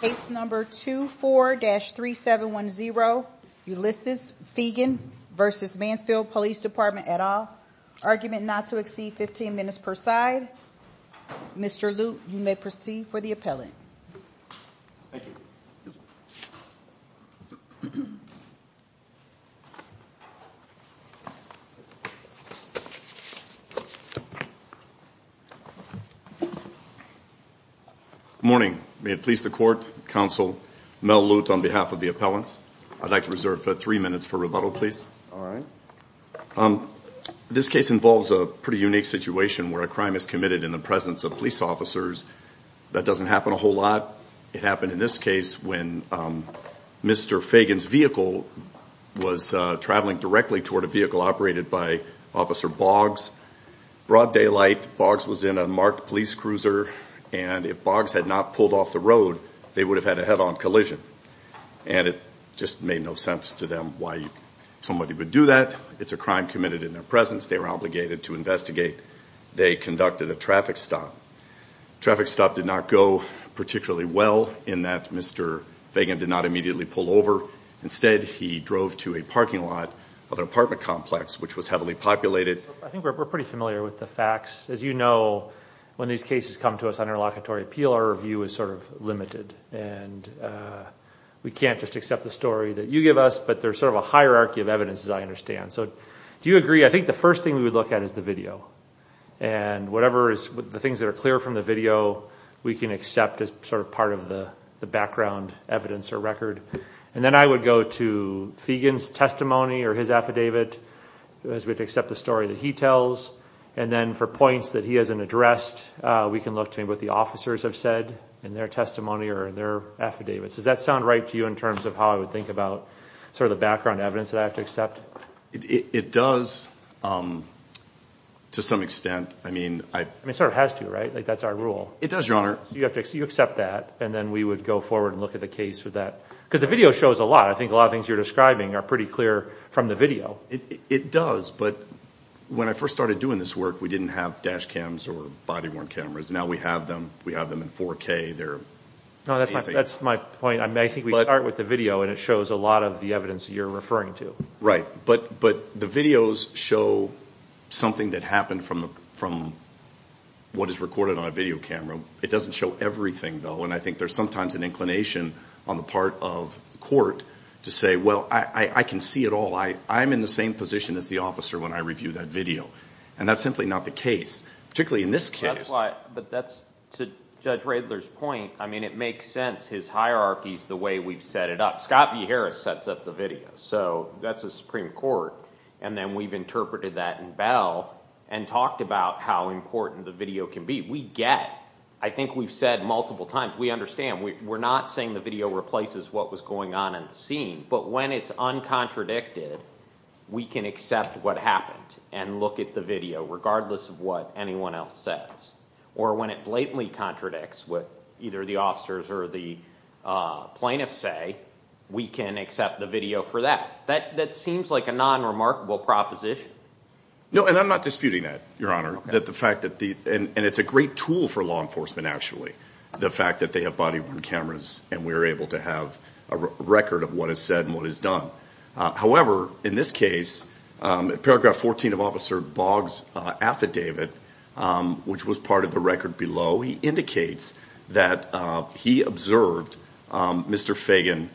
Case number 24-3710, Ulysses Feagin v. Mansfield Police Department, et al. Argument not to exceed 15 minutes per side. Mr. Luke, you may proceed for the appellant. Thank you. Good morning. May it please the court, counsel, Mel Lutz on behalf of the appellants. I'd like to reserve three minutes for rebuttal, please. All right. This case involves a pretty unique situation where a crime is committed in the presence of police officers. That doesn't happen a whole lot. It happened in this case when Mr. Feagin's vehicle was traveling directly toward a vehicle operated by Officer Boggs. Broad daylight, Boggs was in a marked police cruiser, and if Boggs had not pulled off the road, they would have had a head-on collision. And it just made no sense to them why somebody would do that. It's a crime committed in their presence. They were obligated to investigate. They conducted a traffic stop. The traffic stop did not go particularly well in that Mr. Feagin did not immediately pull over. Instead, he drove to a parking lot of an apartment complex, which was heavily populated. I think we're pretty familiar with the facts. As you know, when these cases come to us on interlocutory appeal, our view is sort of limited. And we can't just accept the story that you give us, but there's sort of a hierarchy of evidence, as I understand. So do you agree? I think the first thing we would look at is the video. And whatever is the things that are clear from the video, we can accept as sort of part of the background evidence or record. And then I would go to Feagin's testimony or his affidavit as we accept the story that he tells. And then for points that he hasn't addressed, we can look to what the officers have said in their testimony or in their affidavits. Does that sound right to you in terms of how I would think about sort of the background evidence that I have to accept? It does to some extent. It sort of has to, right? That's our rule. It does, Your Honor. You accept that, and then we would go forward and look at the case for that. Because the video shows a lot. I think a lot of things you're describing are pretty clear from the video. It does, but when I first started doing this work, we didn't have dash cams or body-worn cameras. Now we have them. We have them in 4K. That's my point. I think we start with the video, and it shows a lot of the evidence that you're referring to. Right, but the videos show something that happened from what is recorded on a video camera. It doesn't show everything, though, and I think there's sometimes an inclination on the part of the court to say, well, I can see it all. I'm in the same position as the officer when I review that video. And that's simply not the case, particularly in this case. But that's to Judge Radler's point. I mean, it makes sense. His hierarchy is the way we've set it up. Scott V. Harris sets up the video, so that's the Supreme Court. And then we've interpreted that in Bell and talked about how important the video can be. We get, I think we've said multiple times, we understand. We're not saying the video replaces what was going on in the scene. But when it's uncontradicted, we can accept what happened and look at the video, regardless of what anyone else says. Or when it blatantly contradicts what either the officers or the plaintiffs say, we can accept the video for that. That seems like a non-remarkable proposition. No, and I'm not disputing that, Your Honor. And it's a great tool for law enforcement, actually, the fact that they have body-worn cameras and we're able to have a record of what is said and what is done. However, in this case, paragraph 14 of Officer Boggs' affidavit, which was part of the record below, he indicates that he observed Mr. Fagan.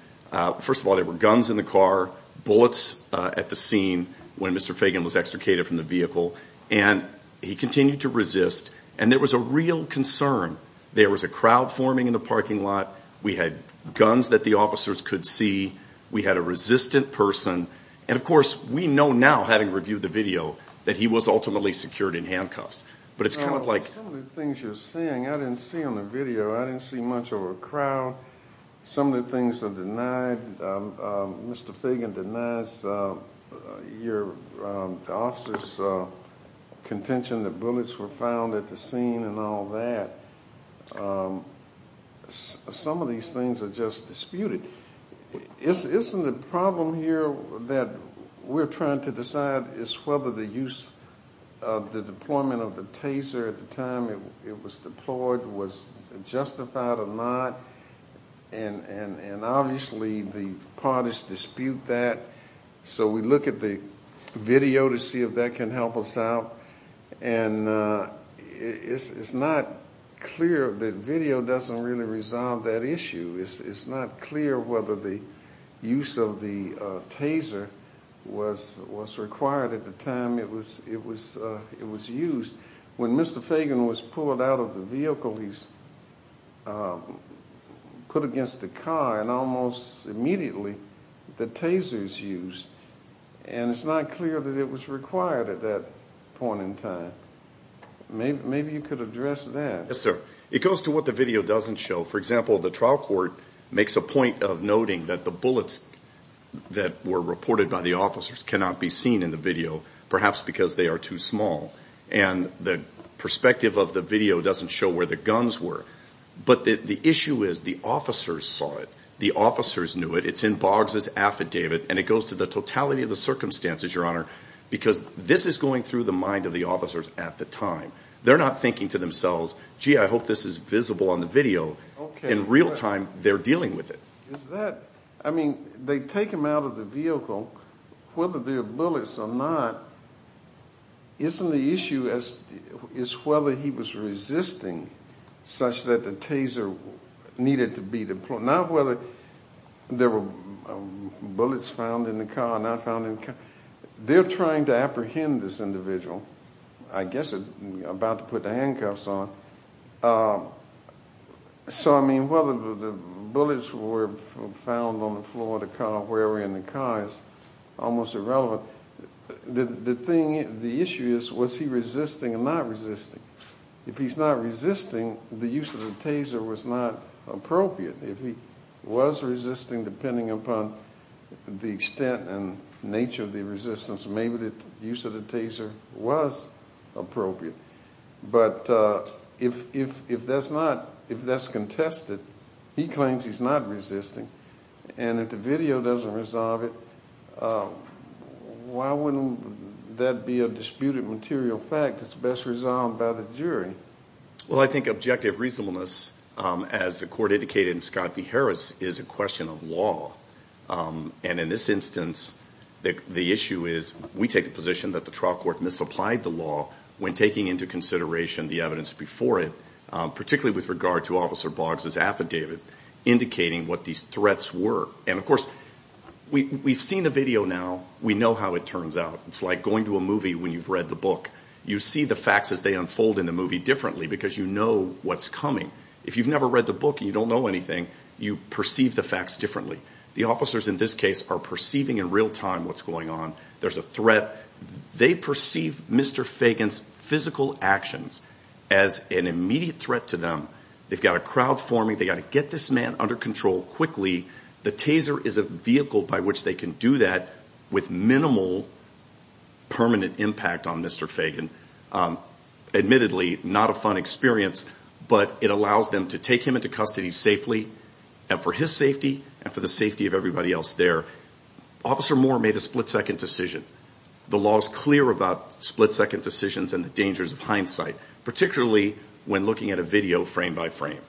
First of all, there were guns in the car, bullets at the scene when Mr. Fagan was extricated from the vehicle. And he continued to resist. And there was a real concern. There was a crowd forming in the parking lot. We had guns that the officers could see. We had a resistant person. And, of course, we know now, having reviewed the video, that he was ultimately secured in handcuffs. But it's kind of like... Some of the things you're saying, I didn't see on the video. I didn't see much of a crowd. Some of the things are denied. Mr. Fagan denies your officers' contention that bullets were found at the scene and all that. Some of these things are just disputed. Isn't the problem here that we're trying to decide is whether the use of the deployment of the taser at the time it was deployed was justified or not? And, obviously, the parties dispute that. So we look at the video to see if that can help us out. And it's not clear that video doesn't really resolve that issue. It's not clear whether the use of the taser was required at the time it was used. When Mr. Fagan was pulled out of the vehicle, he was put against the car, and almost immediately the taser was used. And it's not clear that it was required at that point in time. Maybe you could address that. Yes, sir. It goes to what the video doesn't show. For example, the trial court makes a point of noting that the bullets that were reported by the officers cannot be seen in the video, perhaps because they are too small. And the perspective of the video doesn't show where the guns were. But the issue is the officers saw it. The officers knew it. It's in Boggs' affidavit. And it goes to the totality of the circumstances, Your Honor, because this is going through the mind of the officers at the time. They're not thinking to themselves, gee, I hope this is visible on the video. In real time, they're dealing with it. I mean, they take him out of the vehicle. Whether there are bullets or not, isn't the issue whether he was resisting such that the taser needed to be deployed? Not whether there were bullets found in the car or not found in the car. They're trying to apprehend this individual, I guess about to put the handcuffs on. So, I mean, whether the bullets were found on the floor of the car or wherever in the car is almost irrelevant. The issue is, was he resisting or not resisting? If he's not resisting, the use of the taser was not appropriate. If he was resisting, depending upon the extent and nature of the resistance, maybe the use of the taser was appropriate. But if that's contested, he claims he's not resisting, and if the video doesn't resolve it, why wouldn't that be a disputed material fact that's best resolved by the jury? Well, I think objective reasonableness, as the court indicated in Scott v. Harris, is a question of law. And in this instance, the issue is we take the position that the trial court misapplied the law when taking into consideration the evidence before it, particularly with regard to Officer Boggs' affidavit, indicating what these threats were. And, of course, we've seen the video now. We know how it turns out. It's like going to a movie when you've read the book. You see the facts as they unfold in the movie differently because you know what's coming. If you've never read the book and you don't know anything, you perceive the facts differently. The officers in this case are perceiving in real time what's going on. There's a threat. They perceive Mr. Fagan's physical actions as an immediate threat to them. They've got a crowd forming. They've got to get this man under control quickly. The taser is a vehicle by which they can do that with minimal permanent impact on Mr. Fagan. Admittedly, not a fun experience, but it allows them to take him into custody safely, and for his safety and for the safety of everybody else there. Officer Moore made a split-second decision. The law is clear about split-second decisions and the dangers of hindsight, particularly when looking at a video frame by frame.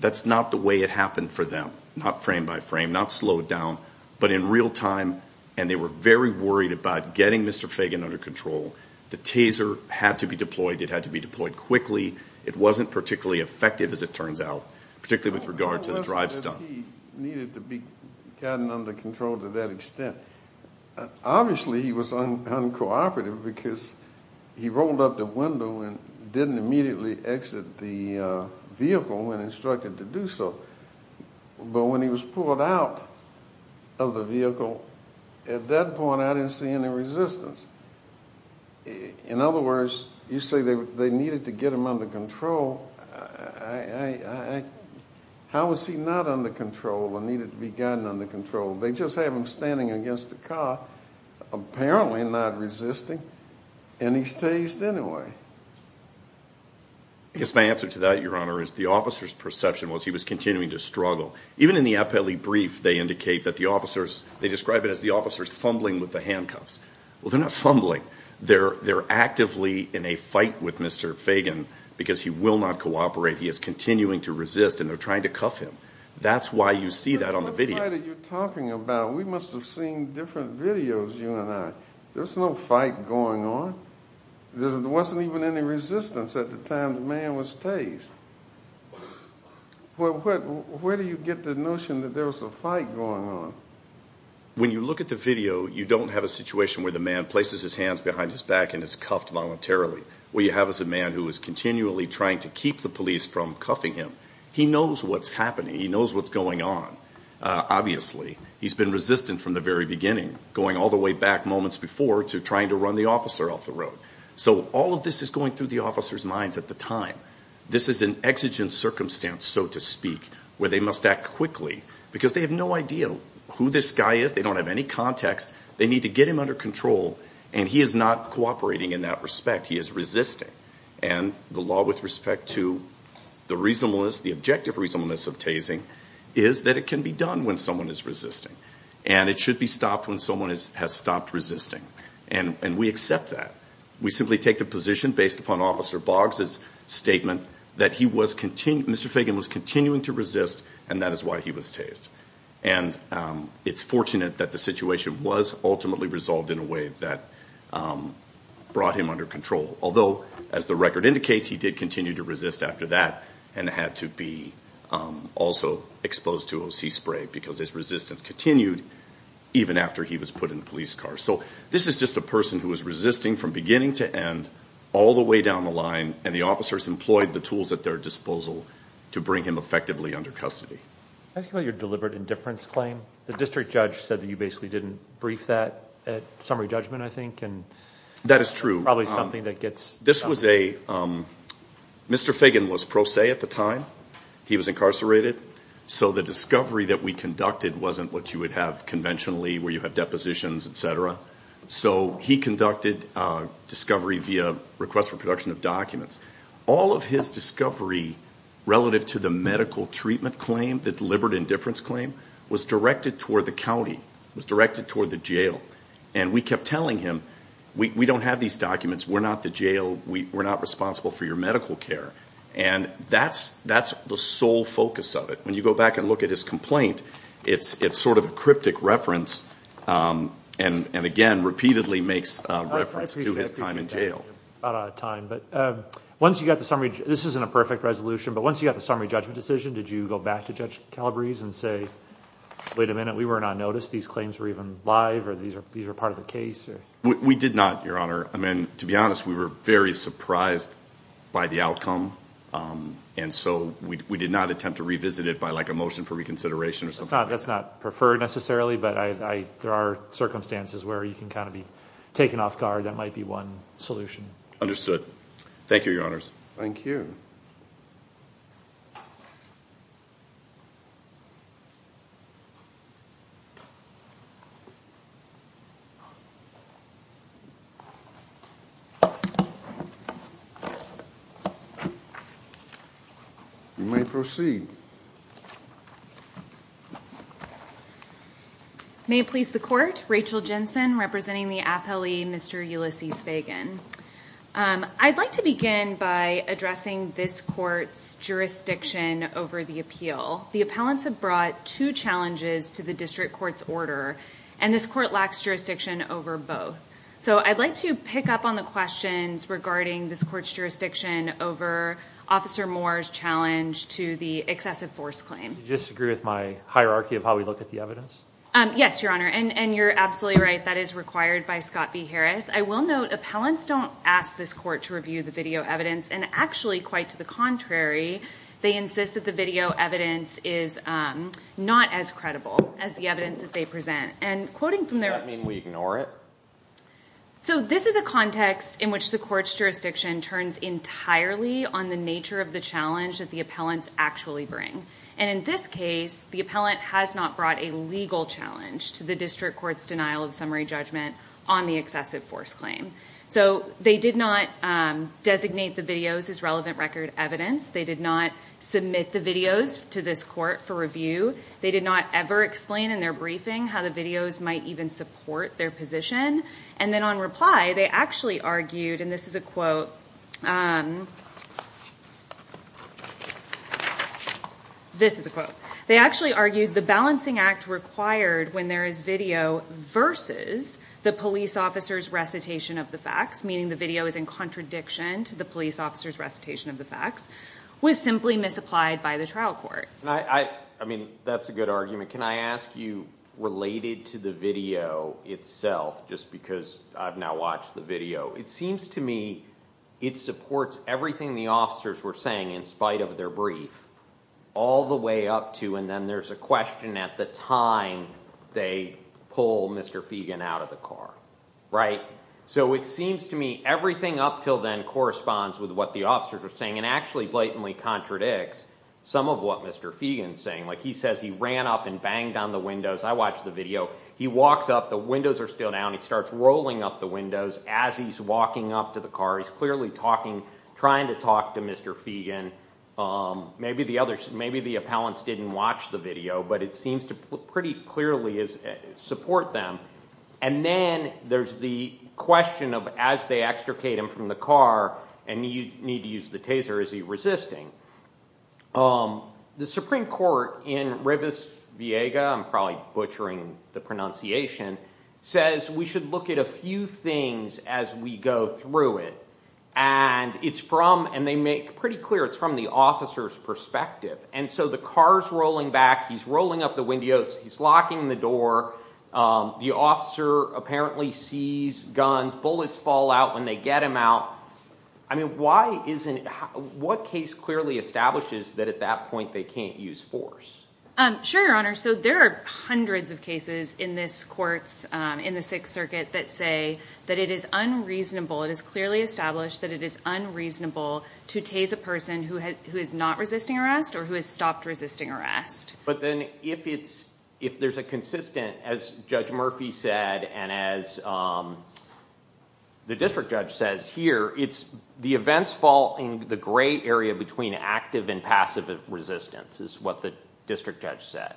That's not the way it happened for them, not frame by frame, not slowed down, but in real time, and they were very worried about getting Mr. Fagan under control. The taser had to be deployed. It had to be deployed quickly. It wasn't particularly effective, as it turns out, particularly with regard to the drive stump. How was it that he needed to be gotten under control to that extent? Obviously, he was uncooperative because he rolled up the window and didn't immediately exit the vehicle when instructed to do so. But when he was pulled out of the vehicle, at that point I didn't see any resistance. In other words, you say they needed to get him under control. How was he not under control and needed to be gotten under control? They just have him standing against the car, apparently not resisting, and he's tased anyway. I guess my answer to that, Your Honor, is the officer's perception was he was continuing to struggle. Even in the appellee brief, they indicate that the officers, they describe it as the officers fumbling with the handcuffs. Well, they're not fumbling. They're actively in a fight with Mr. Fagan because he will not cooperate. He is continuing to resist, and they're trying to cuff him. That's why you see that on the video. What fight are you talking about? We must have seen different videos, you and I. There was no fight going on. There wasn't even any resistance at the time the man was tased. Where do you get the notion that there was a fight going on? When you look at the video, you don't have a situation where the man places his hands behind his back and is cuffed voluntarily. What you have is a man who is continually trying to keep the police from cuffing him. He knows what's happening. He knows what's going on, obviously. He's been resistant from the very beginning, going all the way back moments before to trying to run the officer off the road. So all of this is going through the officer's minds at the time. This is an exigent circumstance, so to speak, where they must act quickly because they have no idea who this guy is. They don't have any context. They need to get him under control, and he is not cooperating in that respect. He is resisting. And the law with respect to the objective reasonableness of tasing is that it can be done when someone is resisting, and it should be stopped when someone has stopped resisting. And we accept that. We simply take the position based upon Officer Boggs's statement that Mr. Fagan was continuing to resist, and that is why he was tased. And it's fortunate that the situation was ultimately resolved in a way that brought him under control. Although, as the record indicates, he did continue to resist after that and had to be also exposed to O.C. spray because his resistance continued even after he was put in the police car. So this is just a person who was resisting from beginning to end all the way down the line, and the officers employed the tools at their disposal to bring him effectively under custody. Can I ask you about your deliberate indifference claim? The district judge said that you basically didn't brief that at summary judgment, I think. That is true. Probably something that gets done. Mr. Fagan was pro se at the time. He was incarcerated. So the discovery that we conducted wasn't what you would have conventionally where you have depositions, et cetera. So he conducted discovery via request for production of documents. All of his discovery relative to the medical treatment claim, the deliberate indifference claim, was directed toward the county, was directed toward the jail. And we kept telling him, we don't have these documents. We're not the jail. We're not responsible for your medical care. And that's the sole focus of it. When you go back and look at his complaint, it's sort of a cryptic reference. And, again, repeatedly makes reference to his time in jail. Once you got the summary, this isn't a perfect resolution, but once you got the summary judgment decision, did you go back to Judge Calabrese and say, wait a minute, we were not noticed. These claims were even live or these were part of the case? We did not, Your Honor. To be honest, we were very surprised by the outcome. And so we did not attempt to revisit it by like a motion for reconsideration. That's not preferred necessarily. But there are circumstances where you can kind of be taken off guard. That might be one solution. Thank you, Your Honors. Thank you. You may proceed. May it please the Court. Rachel Jensen representing the appellee, Mr. Ulysses Fagan. I'd like to begin by addressing this court's jurisdiction over the appeal. The appellants have brought two challenges to the district court's order, and this court lacks jurisdiction over both. So I'd like to pick up on the questions regarding this court's jurisdiction over Officer Moore's challenge to the excessive force claim. Do you disagree with my hierarchy of how we look at the evidence? Yes, Your Honor, and you're absolutely right. That is required by Scott v. Harris. I will note appellants don't ask this court to review the video evidence, and actually quite to the contrary, they insist that the video evidence is not as credible as the evidence that they present. Does that mean we ignore it? So this is a context in which the court's jurisdiction turns entirely on the nature of the challenge that the appellants actually bring. And in this case, the appellant has not brought a legal challenge to the district court's denial of summary judgment on the excessive force claim. So they did not designate the videos as relevant record evidence. They did not submit the videos to this court for review. They did not ever explain in their briefing how the videos might even support their position. And then on reply, they actually argued, and this is a quote. This is a quote. They actually argued the balancing act required when there is video versus the police officer's recitation of the facts, meaning the video is in contradiction to the police officer's recitation of the facts, was simply misapplied by the trial court. I mean, that's a good argument. Can I ask you, related to the video itself, just because I've now watched the video, it seems to me it supports everything the officers were saying in spite of their brief all the way up to and then there's a question at the time they pull Mr. Feagin out of the car, right? So it seems to me everything up till then corresponds with what the officers are saying and actually blatantly contradicts some of what Mr. Feagin is saying. Like he says he ran up and banged on the windows. I watched the video. He walks up. The windows are still down. He starts rolling up the windows as he's walking up to the car. He's clearly talking, trying to talk to Mr. Feagin. Maybe the appellants didn't watch the video, but it seems to pretty clearly support them. And then there's the question of as they extricate him from the car, and you need to use the taser, is he resisting? The Supreme Court in Rivas-Viega, I'm probably butchering the pronunciation, says we should look at a few things as we go through it. And it's from, and they make pretty clear it's from the officer's perspective. And so the car is rolling back. He's rolling up the windows. He's locking the door. The officer apparently sees guns, bullets fall out when they get him out. I mean why isn't it, what case clearly establishes that at that point they can't use force? Sure, Your Honor. So there are hundreds of cases in this court, in the Sixth Circuit, that say that it is unreasonable. It is clearly established that it is unreasonable to tase a person who is not resisting arrest or who has stopped resisting arrest. But then if there's a consistent, as Judge Murphy said and as the district judge says here, it's the events fall in the gray area between active and passive resistance, is what the district judge said.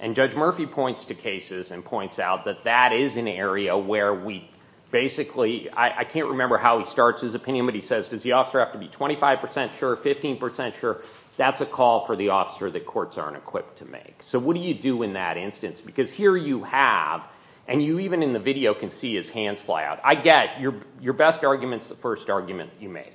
And Judge Murphy points to cases and points out that that is an area where we basically, I can't remember how he starts his opinion, but he says, does the officer have to be 25 percent sure, 15 percent sure? That's a call for the officer that courts aren't equipped to make. So what do you do in that instance? Because here you have, and you even in the video can see his hands fly out. I get your best argument is the first argument you make,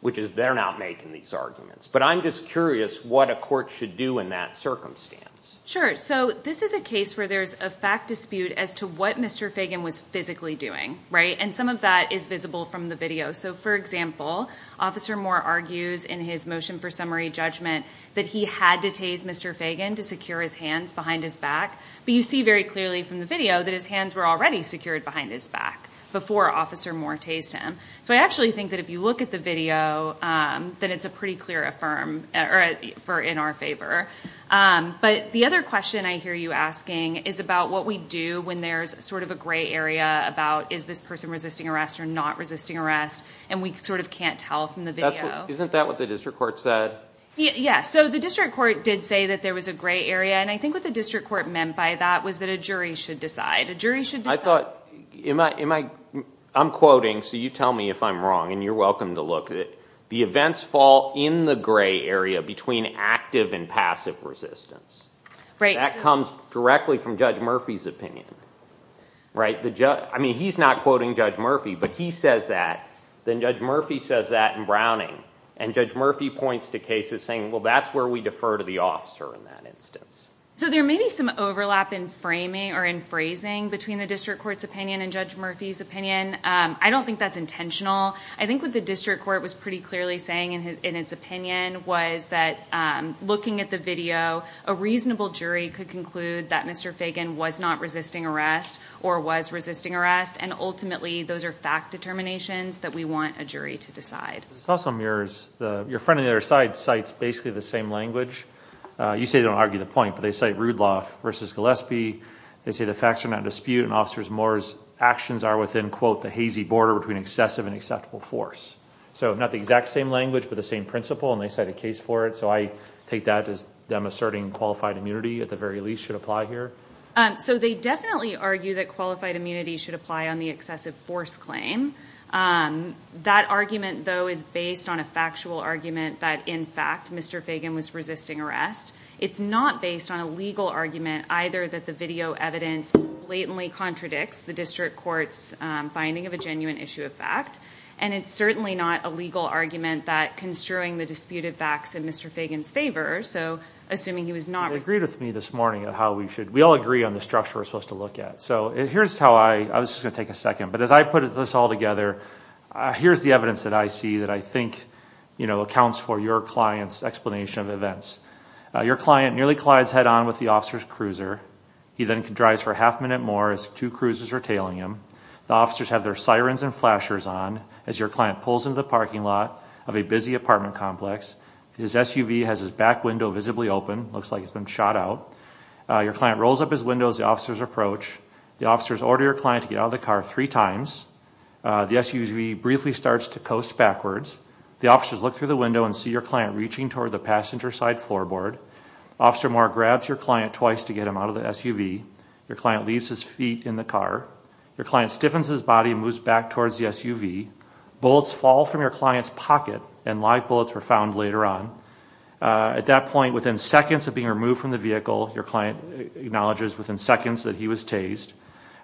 which is they're not making these arguments. But I'm just curious what a court should do in that circumstance. Sure. So this is a case where there's a fact dispute as to what Mr. Fagan was physically doing. And some of that is visible from the video. So, for example, Officer Moore argues in his motion for summary judgment that he had to tase Mr. Fagan to secure his hands behind his back. But you see very clearly from the video that his hands were already secured behind his back before Officer Moore tased him. So I actually think that if you look at the video, that it's a pretty clear affirm in our favor. But the other question I hear you asking is about what we do when there's sort of a gray area about is this person resisting arrest or not resisting arrest, and we sort of can't tell from the video. Isn't that what the district court said? Yeah. So the district court did say that there was a gray area, and I think what the district court meant by that was that a jury should decide. A jury should decide. I thought, am I, I'm quoting, so you tell me if I'm wrong, and you're welcome to look. The events fall in the gray area between active and passive resistance. That comes directly from Judge Murphy's opinion. Right? I mean, he's not quoting Judge Murphy, but he says that. Then Judge Murphy says that in Browning. And Judge Murphy points to cases saying, well, that's where we defer to the officer in that instance. So there may be some overlap in framing or in phrasing between the district court's opinion and Judge Murphy's opinion. I don't think that's intentional. I think what the district court was pretty clearly saying in its opinion was that looking at the video, a reasonable jury could conclude that Mr. Fagan was not resisting arrest or was resisting arrest, and ultimately those are fact determinations that we want a jury to decide. This also mirrors, your friend on the other side cites basically the same language. You say they don't argue the point, but they cite Rudloff v. Gillespie. They say the facts are not in dispute, and Officer Moore's actions are within, quote, the hazy border between excessive and acceptable force. So not the exact same language, but the same principle, and they cite a case for it. So I take that as them asserting qualified immunity, at the very least, should apply here? So they definitely argue that qualified immunity should apply on the excessive force claim. That argument, though, is based on a factual argument that, in fact, Mr. Fagan was resisting arrest. It's not based on a legal argument, either that the video evidence blatantly contradicts the district court's finding of a genuine issue of fact, and it's certainly not a legal argument that construing the disputed facts in Mr. Fagan's favor, so assuming he was not resisting. You agreed with me this morning on how we should, we all agree on the structure we're supposed to look at. So here's how I, I was just going to take a second, but as I put this all together, here's the evidence that I see that I think, you know, accounts for your client's explanation of events. Your client nearly collides head-on with the officer's cruiser. He then drives for a half-minute more as two cruisers are tailing him. The officers have their sirens and flashers on as your client pulls into the parking lot of a busy apartment complex. His SUV has his back window visibly open, looks like he's been shot out. Your client rolls up his window as the officers approach. The officers order your client to get out of the car three times. The SUV briefly starts to coast backwards. The officers look through the window and see your client reaching toward the passenger-side floorboard. Officer Moore grabs your client twice to get him out of the SUV. Your client leaves his feet in the car. Your client stiffens his body and moves back towards the SUV. Bullets fall from your client's pocket, and live bullets were found later on. At that point, within seconds of being removed from the vehicle, your client acknowledges within seconds that he was tased.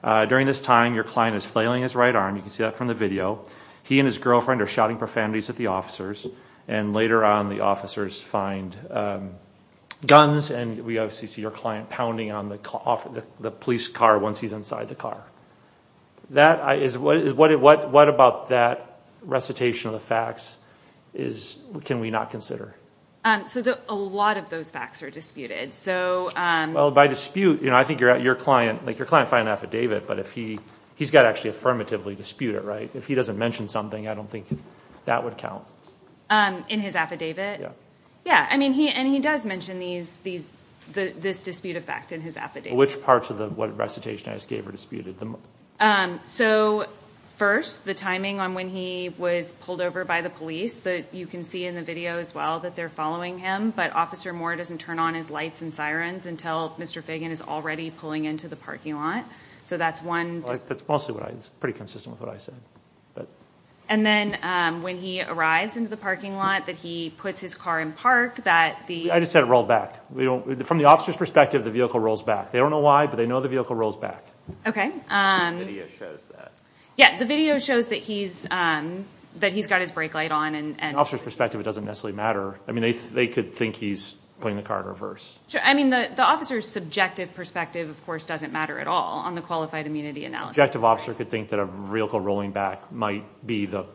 During this time, your client is flailing his right arm. You can see that from the video. He and his girlfriend are shouting profanities at the officers, and later on the officers find guns, and we obviously see your client pounding on the police car once he's inside the car. What about that recitation of the facts can we not consider? A lot of those facts are disputed. Well, by dispute, I think your client, like your client filed an affidavit, but he's got to actually affirmatively dispute it, right? If he doesn't mention something, I don't think that would count. In his affidavit? Yeah. And he does mention this dispute of fact in his affidavit. Which parts of what recitation I just gave are disputed? First, the timing on when he was pulled over by the police. You can see in the video as well that they're following him, but Officer Moore doesn't turn on his lights and sirens until Mr. Fagan is already pulling into the parking lot. So that's one. That's pretty consistent with what I said. And then when he arrives into the parking lot, that he puts his car in park, that the— I just said it rolled back. From the officer's perspective, the vehicle rolls back. They don't know why, but they know the vehicle rolls back. Okay. The video shows that. Yeah, the video shows that he's got his brake light on. From an officer's perspective, it doesn't necessarily matter. I mean, they could think he's putting the car in reverse. I mean, the officer's subjective perspective, of course, doesn't matter at all on the qualified immunity analysis. The subjective officer could think that a vehicle rolling back might be the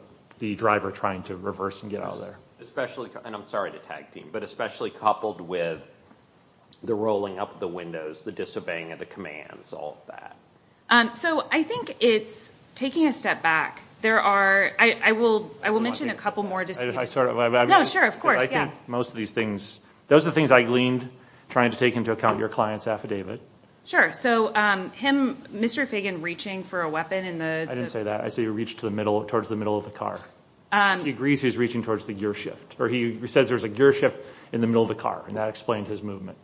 driver trying to reverse and get out of there. Especially, and I'm sorry to tag team, but especially coupled with the rolling up of the windows, the disobeying of the commands, all of that. So I think it's taking a step back. There are—I will mention a couple more— No, sure, of course, yeah. Because I think most of these things, those are the things I gleaned trying to take into account your client's affidavit. Sure. So him, Mr. Fagan, reaching for a weapon in the— I didn't say that. I said he reached towards the middle of the car. He agrees he was reaching towards the gear shift, or he says there's a gear shift in the middle of the car, and that explained his movement.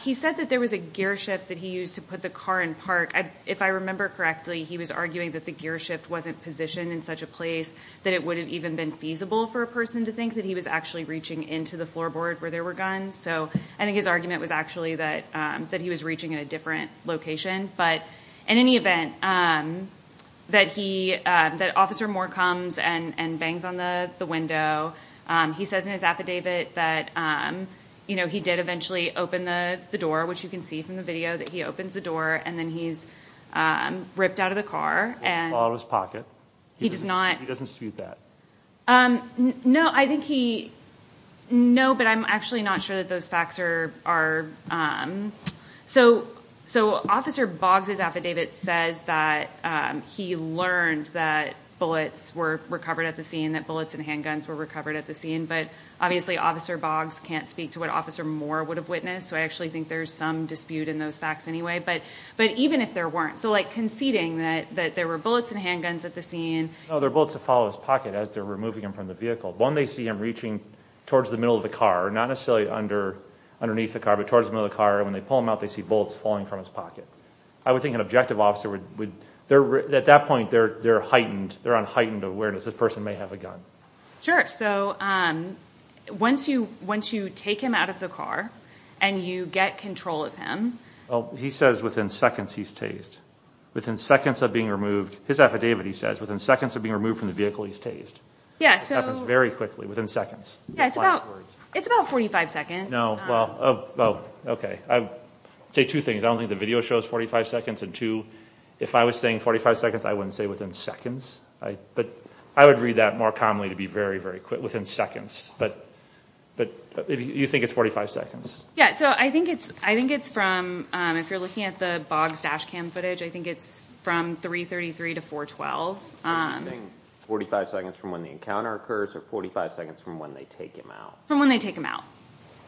He said that there was a gear shift that he used to put the car in park. If I remember correctly, he was arguing that the gear shift wasn't positioned in such a place that it would have even been feasible for a person to think that he was actually reaching into the floorboard where there were guns. So I think his argument was actually that he was reaching in a different location. But in any event, that he—that Officer Moore comes and bangs on the window. He says in his affidavit that, you know, he did eventually open the door, which you can see from the video that he opens the door, and then he's ripped out of the car. He's all out of his pocket. He does not— He doesn't dispute that. No, I think he— No, but I'm actually not sure that those facts are— So Officer Boggs' affidavit says that he learned that bullets were recovered at the scene, that bullets and handguns were recovered at the scene, but obviously Officer Boggs can't speak to what Officer Moore would have witnessed, so I actually think there's some dispute in those facts anyway. But even if there weren't— So like conceding that there were bullets and handguns at the scene— No, they're bullets that fall out of his pocket as they're removing him from the vehicle. When they see him reaching towards the middle of the car, not necessarily underneath the car, but towards the middle of the car, when they pull him out, they see bullets falling from his pocket. I would think an objective officer would— At that point, they're heightened. They're on heightened awareness. This person may have a gun. Sure. So once you take him out of the car and you get control of him— Well, he says within seconds he's tased. Within seconds of being removed—his affidavit, he says, within seconds of being removed from the vehicle, he's tased. Yeah, so— It happens very quickly, within seconds. Yeah, it's about 45 seconds. No, well, okay. I would say two things. I don't think the video shows 45 seconds. And two, if I was saying 45 seconds, I wouldn't say within seconds. But I would read that more commonly to be very, very quick, within seconds. But you think it's 45 seconds? Yeah, so I think it's from— If you're looking at the Boggs dash cam footage, I think it's from 333 to 412. So you're saying 45 seconds from when the encounter occurs or 45 seconds from when they take him out? From when they take him out.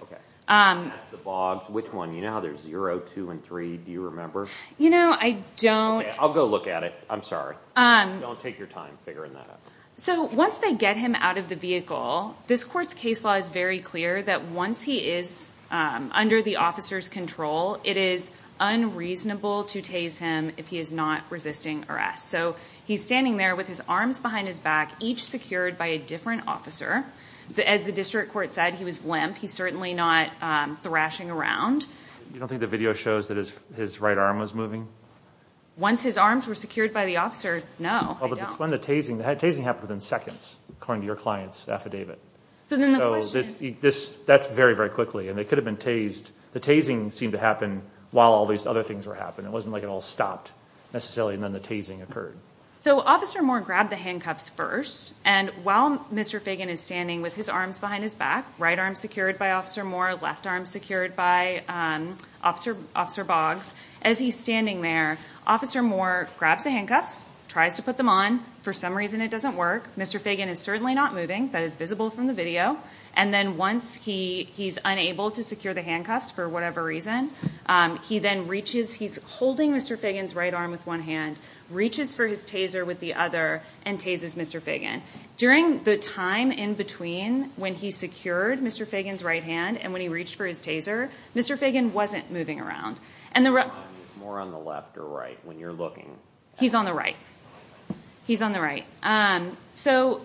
Okay. That's the Boggs. Which one? You know how there's zero, two, and three? Do you remember? You know, I don't— Okay, I'll go look at it. I'm sorry. Don't take your time figuring that out. So once they get him out of the vehicle, this court's case law is very clear that once he is under the officer's control, it is unreasonable to tase him if he is not resisting arrest. So he's standing there with his arms behind his back, each secured by a different officer. As the district court said, he was limp. He's certainly not thrashing around. You don't think the video shows that his right arm was moving? Once his arms were secured by the officer, no, they don't. Oh, but it's when the tasing— The tasing happened within seconds, according to your client's affidavit. So then the question— So that's very, very quickly, and they could have been tased. The tasing seemed to happen while all these other things were happening. It wasn't like it all stopped necessarily, and then the tasing occurred. So Officer Moore grabbed the handcuffs first, and while Mr. Fagan is standing with his arms behind his back, right arm secured by Officer Moore, left arm secured by Officer Boggs, as he's standing there, Officer Moore grabs the handcuffs, tries to put them on. For some reason it doesn't work. Mr. Fagan is certainly not moving. That is visible from the video. And then once he's unable to secure the handcuffs for whatever reason, he then reaches—he's holding Mr. Fagan's right arm with one hand, reaches for his taser with the other, and tases Mr. Fagan. During the time in between when he secured Mr. Fagan's right hand and when he reached for his taser, Mr. Fagan wasn't moving around. More on the left or right when you're looking. He's on the right. He's on the right. And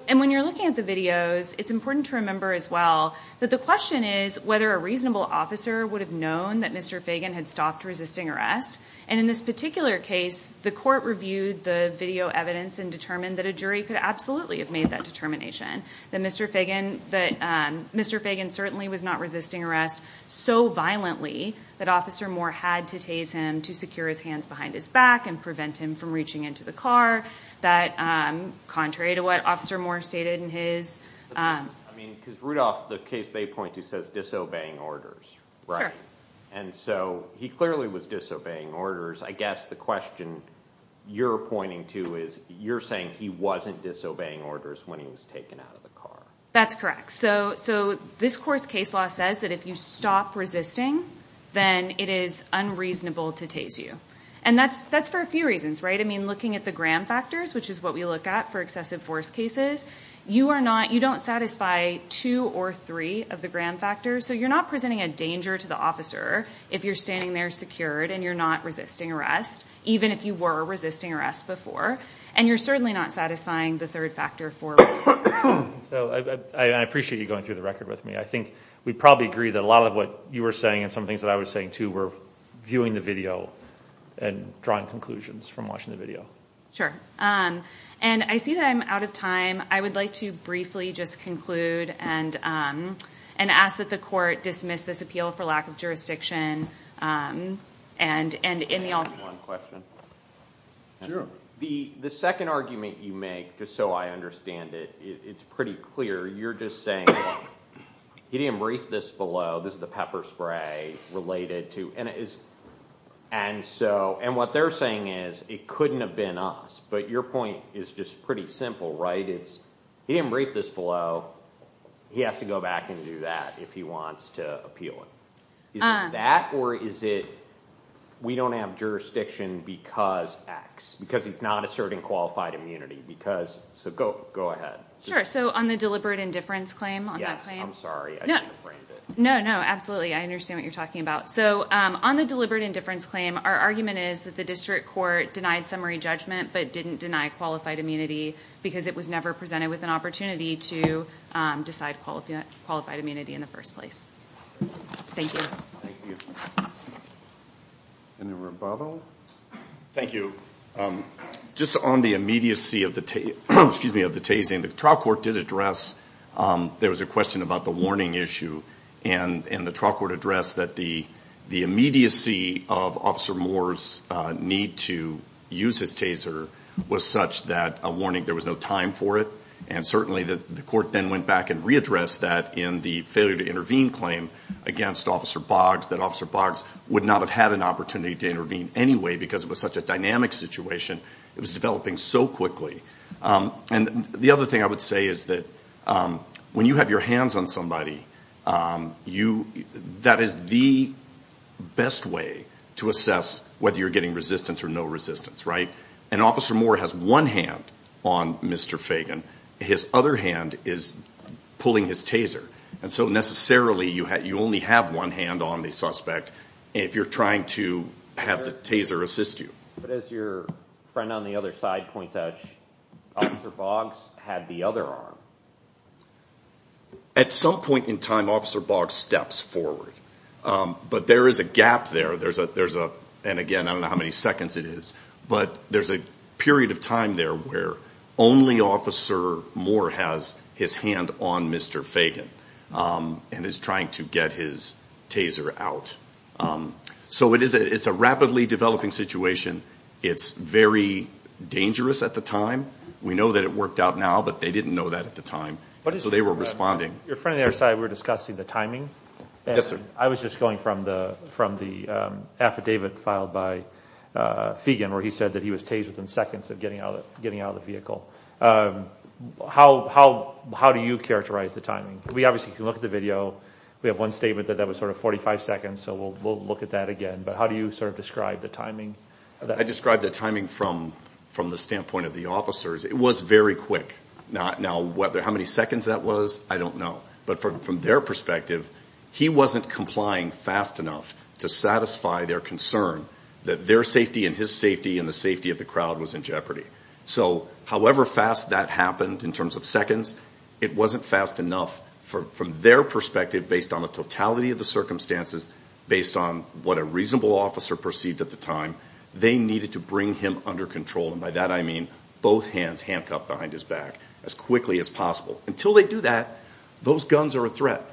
when you're looking at the videos, it's important to remember as well that the question is whether a reasonable officer would have known that Mr. Fagan had stopped resisting arrest. And in this particular case, the court reviewed the video evidence and determined that a jury could absolutely have made that determination, that Mr. Fagan certainly was not resisting arrest so violently that Officer Moore had to tase him to secure his hands behind his back and prevent him from reaching into the car, contrary to what Officer Moore stated in his— I mean, because, Rudolph, the case they point to says disobeying orders, right? And so he clearly was disobeying orders. I guess the question you're pointing to is you're saying he wasn't disobeying orders when he was taken out of the car. That's correct. So this court's case law says that if you stop resisting, then it is unreasonable to tase you. And that's for a few reasons, right? I mean, looking at the Graham factors, which is what we look at for excessive force cases, you don't satisfy two or three of the Graham factors, so you're not presenting a danger to the officer if you're standing there secured and you're not resisting arrest, even if you were resisting arrest before. And you're certainly not satisfying the third factor for resisting arrest. I appreciate you going through the record with me. I think we probably agree that a lot of what you were saying and some things that I was saying too were viewing the video and drawing conclusions from watching the video. And I see that I'm out of time. I would like to briefly just conclude and ask that the court dismiss this appeal for lack of jurisdiction. The second argument you make, just so I understand it, it's pretty clear. You're just saying he didn't brief this below. This is the pepper spray related to. And what they're saying is it couldn't have been us. But your point is just pretty simple, right? He didn't brief this below. He has to go back and do that if he wants to appeal it. Is it that or is it we don't have jurisdiction because X? Because he's not asserting qualified immunity. So go ahead. Sure, so on the deliberate indifference claim? Yes, I'm sorry. I didn't frame it. No, no, absolutely. I understand what you're talking about. So on the deliberate indifference claim, our argument is that the district court denied summary judgment but didn't deny qualified immunity because it was never presented with an opportunity to decide qualified immunity in the first place. Thank you. Thank you. Any rebuttal? Thank you. Just on the immediacy of the tasting, the trial court did address there was a question about the warning issue. And the trial court addressed that the immediacy of Officer Moore's need to use his taser was such that a warning, there was no time for it. And certainly the court then went back and readdressed that in the failure to intervene claim against Officer Boggs, that Officer Boggs would not have had an opportunity to intervene anyway because it was such a dynamic situation. It was developing so quickly. And the other thing I would say is that when you have your hands on somebody, that is the best way to assess whether you're getting resistance or no resistance, right? And Officer Moore has one hand on Mr. Fagan. His other hand is pulling his taser. And so necessarily you only have one hand on the suspect if you're trying to have the taser assist you. But as your friend on the other side points out, Officer Boggs had the other arm. At some point in time, Officer Boggs steps forward. But there is a gap there. And again, I don't know how many seconds it is, but there's a period of time there where only Officer Moore has his hand on Mr. Fagan and is trying to get his taser out. So it's a rapidly developing situation. It's very dangerous at the time. We know that it worked out now, but they didn't know that at the time. So they were responding. Your friend on the other side, we were discussing the timing. Yes, sir. I was just going from the affidavit filed by Fagan where he said that he was tased within seconds of getting out of the vehicle. How do you characterize the timing? We obviously can look at the video. We have one statement that that was sort of 45 seconds, so we'll look at that again. But how do you sort of describe the timing? I describe the timing from the standpoint of the officers. It was very quick. Now, how many seconds that was, I don't know. But from their perspective, he wasn't complying fast enough to satisfy their concern that their safety and his safety and the safety of the crowd was in jeopardy. So however fast that happened in terms of seconds, it wasn't fast enough from their perspective based on the totality of the circumstances, based on what a reasonable officer perceived at the time. They needed to bring him under control, and by that I mean both hands handcuffed behind his back as quickly as possible. Until they do that, those guns are a threat.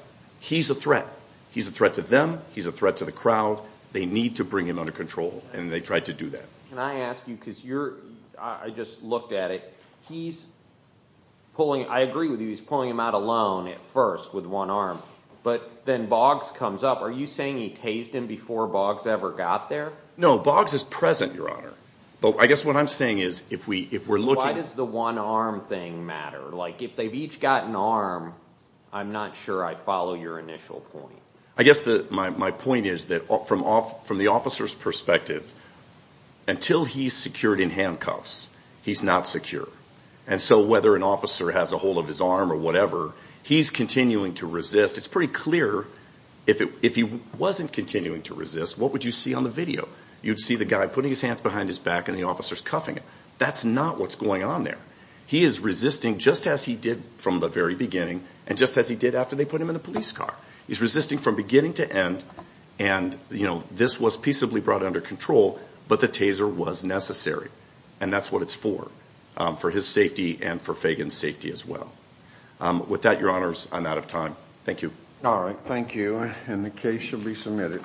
He's a threat. He's a threat to them. He's a threat to the crowd. They need to bring him under control, and they tried to do that. Can I ask you, because I just looked at it, he's pulling, I agree with you, he's pulling him out alone at first with one arm, but then Boggs comes up. Are you saying he tased him before Boggs ever got there? No, Boggs is present, Your Honor. But I guess what I'm saying is if we're looking— Why does the one-arm thing matter? Like if they've each got an arm, I'm not sure I'd follow your initial point. I guess my point is that from the officer's perspective, until he's secured in handcuffs, he's not secure. And so whether an officer has a hold of his arm or whatever, he's continuing to resist. It's pretty clear if he wasn't continuing to resist, what would you see on the video? You'd see the guy putting his hands behind his back and the officer's cuffing him. That's not what's going on there. He is resisting just as he did from the very beginning and just as he did after they put him in the police car. He's resisting from beginning to end, and this was peaceably brought under control, but the taser was necessary, and that's what it's for, for his safety and for Fagan's safety as well. With that, Your Honors, I'm out of time. Thank you. All right. Thank you, and the case shall be submitted.